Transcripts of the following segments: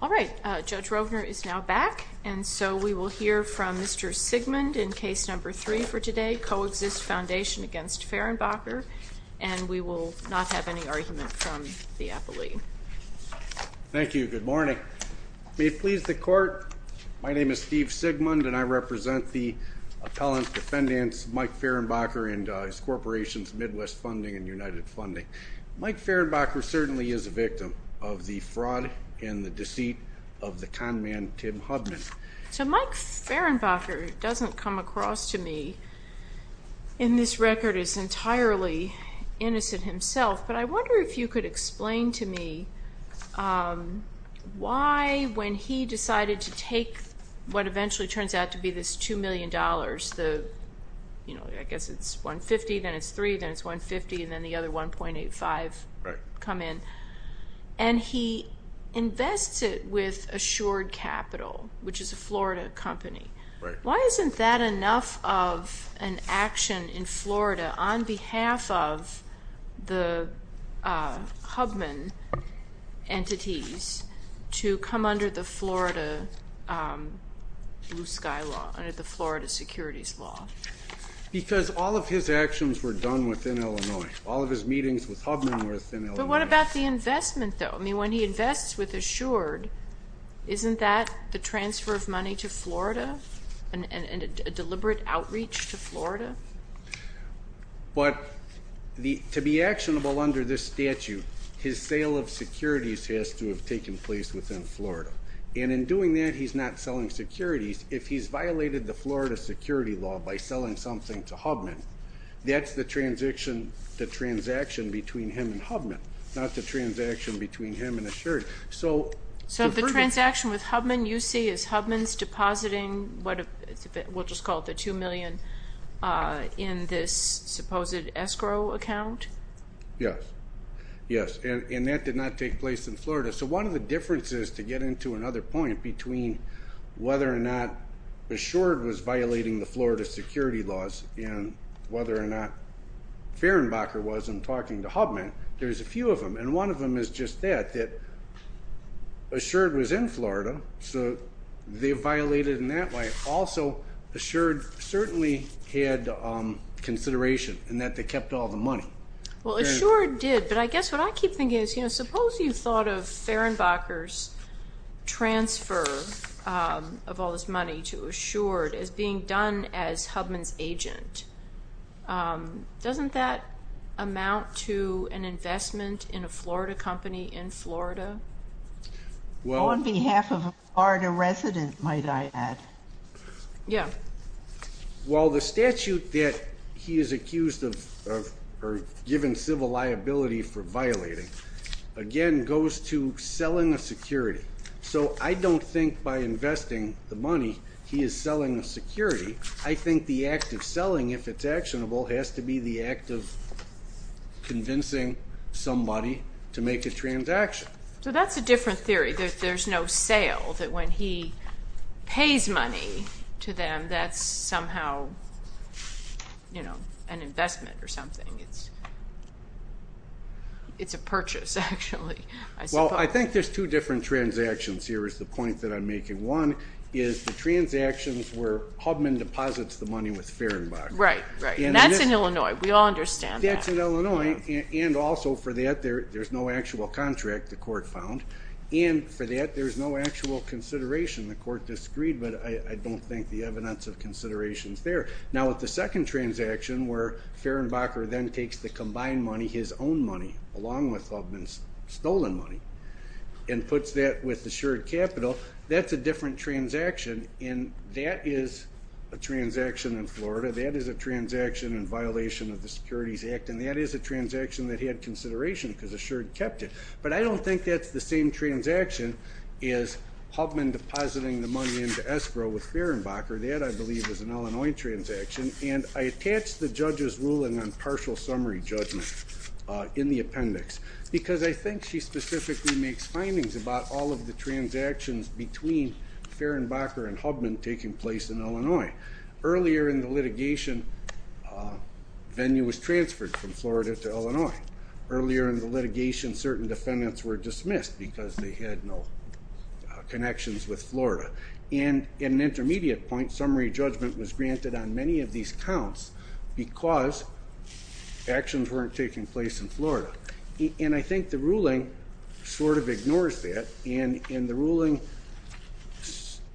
All right, Judge Rovner is now back, and so we will hear from Mr. Sigmund in case number three for today, Coexist Foundation against Fehrenbacher, and we will not have any argument from the appellee. Thank you. Good morning. May it please the Court, my name is Steve Sigmund, and I represent the appellant defendants, Mike Fehrenbacher and his corporations, Midwest Funding and United Funding. Mike Fehrenbacher certainly is a victim of the fraud and the deceit of the con man, Tim Hubman. So Mike Fehrenbacher doesn't come across to me in this record as entirely innocent himself, but I wonder if you could explain to me why when he decided to take what eventually turns out to be this $2 million, I guess it's $150, then it's $3, then it's $150, and then the other $1.85 come in. And he invests it with Assured Capital, which is a Florida company. Right. Why isn't that enough of an action in Florida on behalf of the Hubman entities to come under the Florida blue sky law, under the Florida securities law? Because all of his actions were done within Illinois. All of his meetings with Hubman were within Illinois. But what about the investment, though? I mean, when he invests with Assured, isn't that the transfer of money to Florida and a deliberate outreach to Florida? But to be actionable under this statute, his sale of securities has to have taken place within Florida. And in doing that, he's not selling securities. If he's violated the Florida security law by selling something to Hubman, that's the transaction between him and Hubman, not the transaction between him and Assured. So the transaction with Hubman, you see, is Hubman's depositing, we'll just call it the $2 million, in this supposed escrow account? Yes. Yes. And that did not take place in Florida. So one of the differences, to get into another point, between whether or not Assured was violating the Florida security laws and whether or not Fehrenbacher wasn't talking to Hubman, there's a few of them. And one of them is just that, that Assured was in Florida, so they violated in that way. Also, Assured certainly had consideration in that they kept all the money. Well, Assured did, but I guess what I keep thinking is, you know, suppose you thought of Fehrenbacher's transfer of all this money to Assured as being done as Hubman's agent. Doesn't that amount to an investment in a Florida company in Florida? On behalf of a Florida resident, might I add. Yeah. Well, the statute that he is accused of, or given civil liability for violating, again goes to selling a security. So I don't think by investing the money he is selling a security. I think the act of selling, if it's actionable, has to be the act of convincing somebody to make a transaction. So that's a different theory, that there's no sale, that when he pays money to them, that's somehow, you know, an investment or something. It's a purchase, actually, I suppose. Well, I think there's two different transactions here is the point that I'm making. One is the transactions where Hubman deposits the money with Fehrenbacher. Right, right. And that's in Illinois. We all understand that. That's in Illinois. And also for that, there's no actual contract the court found. And for that, there's no actual consideration. The court disagreed, but I don't think the evidence of consideration is there. Now, with the second transaction where Fehrenbacher then takes the combined money, his own money, along with Hubman's stolen money, and puts that with assured capital, that's a different transaction. And that is a transaction in Florida. That is a transaction in violation of the Securities Act. And that is a transaction that had consideration because assured kept it. But I don't think that's the same transaction as Hubman depositing the money into escrow with Fehrenbacher. That, I believe, is an Illinois transaction. And I attach the judge's ruling on partial summary judgment in the appendix because I think she specifically makes findings about all of the transactions between Fehrenbacher and Hubman taking place in Illinois. Earlier in the litigation, venue was transferred from Florida to Illinois. Earlier in the litigation, certain defendants were dismissed because they had no connections with Florida. And in an intermediate point, summary judgment was granted on many of these counts because actions weren't taking place in Florida. And I think the ruling sort of ignores that, and the ruling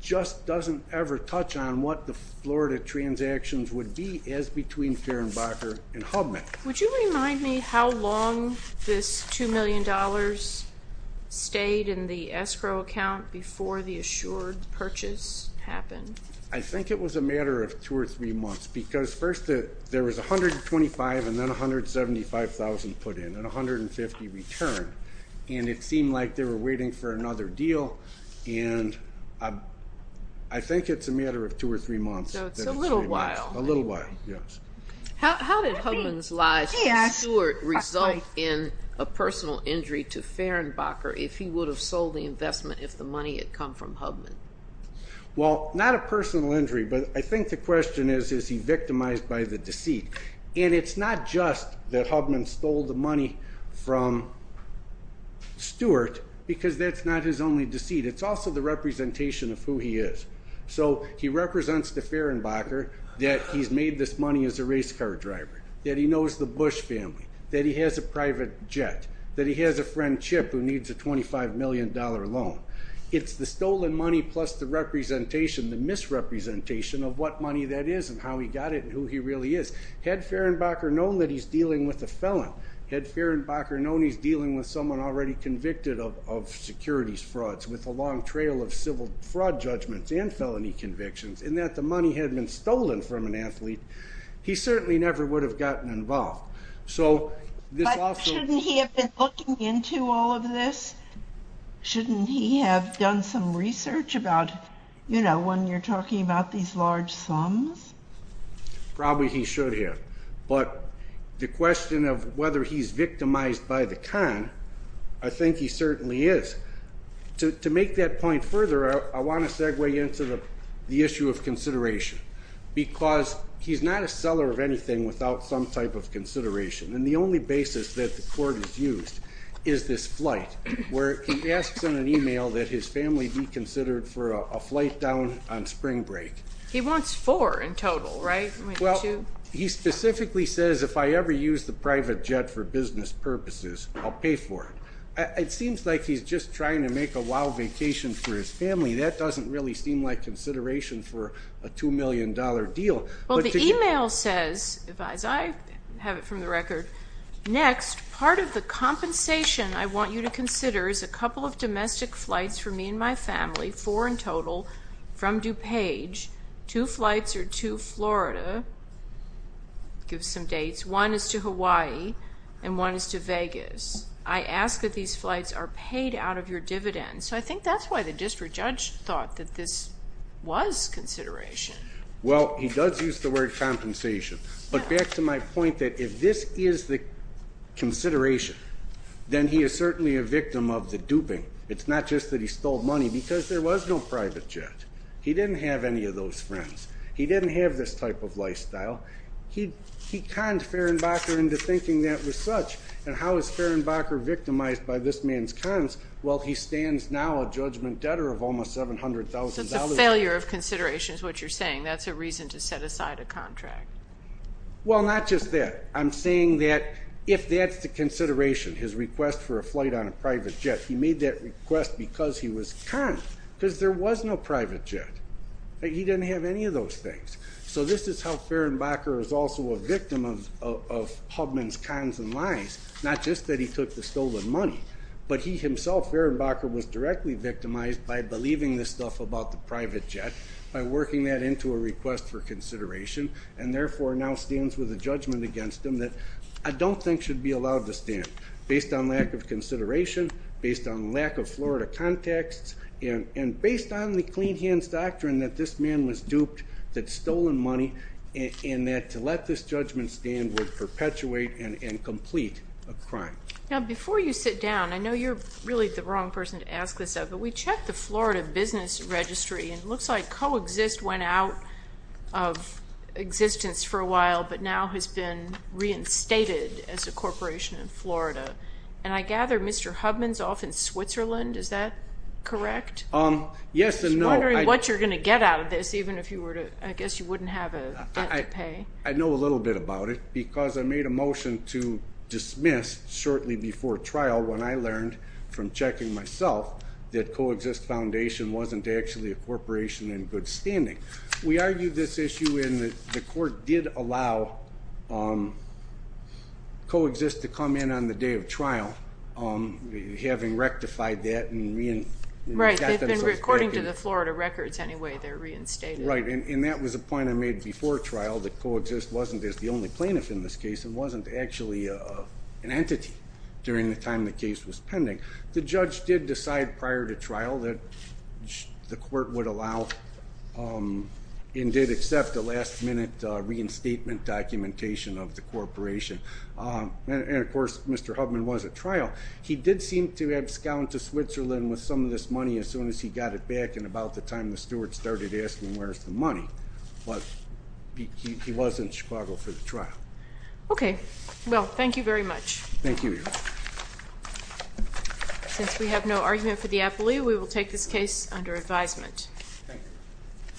just doesn't ever touch on what the Florida transactions would be as between Fehrenbacher and Hubman. Would you remind me how long this $2 million stayed in the escrow account before the assured purchase happened? I think it was a matter of two or three months because first there was $125,000 and then $175,000 put in and $150,000 returned. And it seemed like they were waiting for another deal. And I think it's a matter of two or three months. So it's a little while. A little while, yes. How did Hubman's lie to Stewart result in a personal injury to Fehrenbacher if he would have sold the investment if the money had come from Hubman? Well, not a personal injury, but I think the question is, is he victimized by the deceit? And it's not just that Hubman stole the money from Stewart because that's not his only deceit. It's also the representation of who he is. So he represents to Fehrenbacher that he's made this money as a race car driver, that he knows the Bush family, that he has a private jet, that he has a friend Chip who needs a $25 million loan. It's the stolen money plus the representation, the misrepresentation of what money that is and how he got it and who he really is. Had Fehrenbacher known that he's dealing with a felon, had Fehrenbacher known he's dealing with someone already convicted of securities frauds with a long trail of civil fraud judgments and felony convictions and that the money had been stolen from an athlete, he certainly never would have gotten involved. But shouldn't he have been looking into all of this? Shouldn't he have done some research about, you know, when you're talking about these large sums? Probably he should have. But the question of whether he's victimized by the con, I think he certainly is. To make that point further, I want to segue into the issue of consideration because he's not a seller of anything without some type of consideration. And the only basis that the court has used is this flight where he asks on an e-mail that his family be considered for a flight down on spring break. He wants four in total, right? Well, he specifically says if I ever use the private jet for business purposes, I'll pay for it. It seems like he's just trying to make a wild vacation for his family. That doesn't really seem like consideration for a $2 million deal. Well, the e-mail says, as I have it from the record, next part of the compensation I want you to consider is a couple of domestic flights for me and my family, four in total, from DuPage. Two flights are to Florida. It gives some dates. One is to Hawaii and one is to Vegas. I ask that these flights are paid out of your dividends. So I think that's why the district judge thought that this was consideration. Well, he does use the word compensation. But back to my point that if this is the consideration, then he is certainly a victim of the duping. It's not just that he stole money because there was no private jet. He didn't have any of those friends. He didn't have this type of lifestyle. He conned Fehrenbacher into thinking that was such. And how is Fehrenbacher victimized by this man's cons? Well, he stands now a judgment debtor of almost $700,000. So it's a failure of consideration is what you're saying. That's a reason to set aside a contract. Well, not just that. I'm saying that if that's the consideration, his request for a flight on a private jet, he made that request because he was conned, because there was no private jet. He didn't have any of those things. So this is how Fehrenbacher is also a victim of Hubman's cons and lies, not just that he took the stolen money, but he himself, Fehrenbacher, was directly victimized by believing this stuff about the private jet, by working that into a request for consideration, and therefore now stands with a judgment against him that I don't think should be allowed to stand, based on lack of consideration, based on lack of Florida context, and based on the clean hands doctrine that this man was duped, that stolen money, and that to let this judgment stand would perpetuate and complete a crime. Now, before you sit down, I know you're really the wrong person to ask this of, but we checked the Florida business registry, and it looks like Coexist went out of existence for a while, but now has been reinstated as a corporation in Florida. And I gather Mr. Hubman's off in Switzerland. Is that correct? Yes and no. I'm wondering what you're going to get out of this, even if you were to, I guess you wouldn't have a debt to pay. I know a little bit about it because I made a motion to dismiss shortly before trial when I learned from checking myself that Coexist Foundation wasn't actually a corporation in good standing. We argued this issue, and the court did allow Coexist to come in on the day of trial, having rectified that. Right, according to the Florida records anyway, they're reinstated. Right, and that was a point I made before trial, that Coexist wasn't the only plaintiff in this case and wasn't actually an entity during the time the case was pending. The judge did decide prior to trial that the court would allow and did accept a last-minute reinstatement documentation of the corporation. And, of course, Mr. Hubman was at trial. He did seem to have scowned to Switzerland with some of this money as soon as he got it back and about the time the steward started asking where's the money. But he was in Chicago for the trial. Okay, well, thank you very much. Thank you, Your Honor. Since we have no argument for the appellee, we will take this case under advisement. Thank you.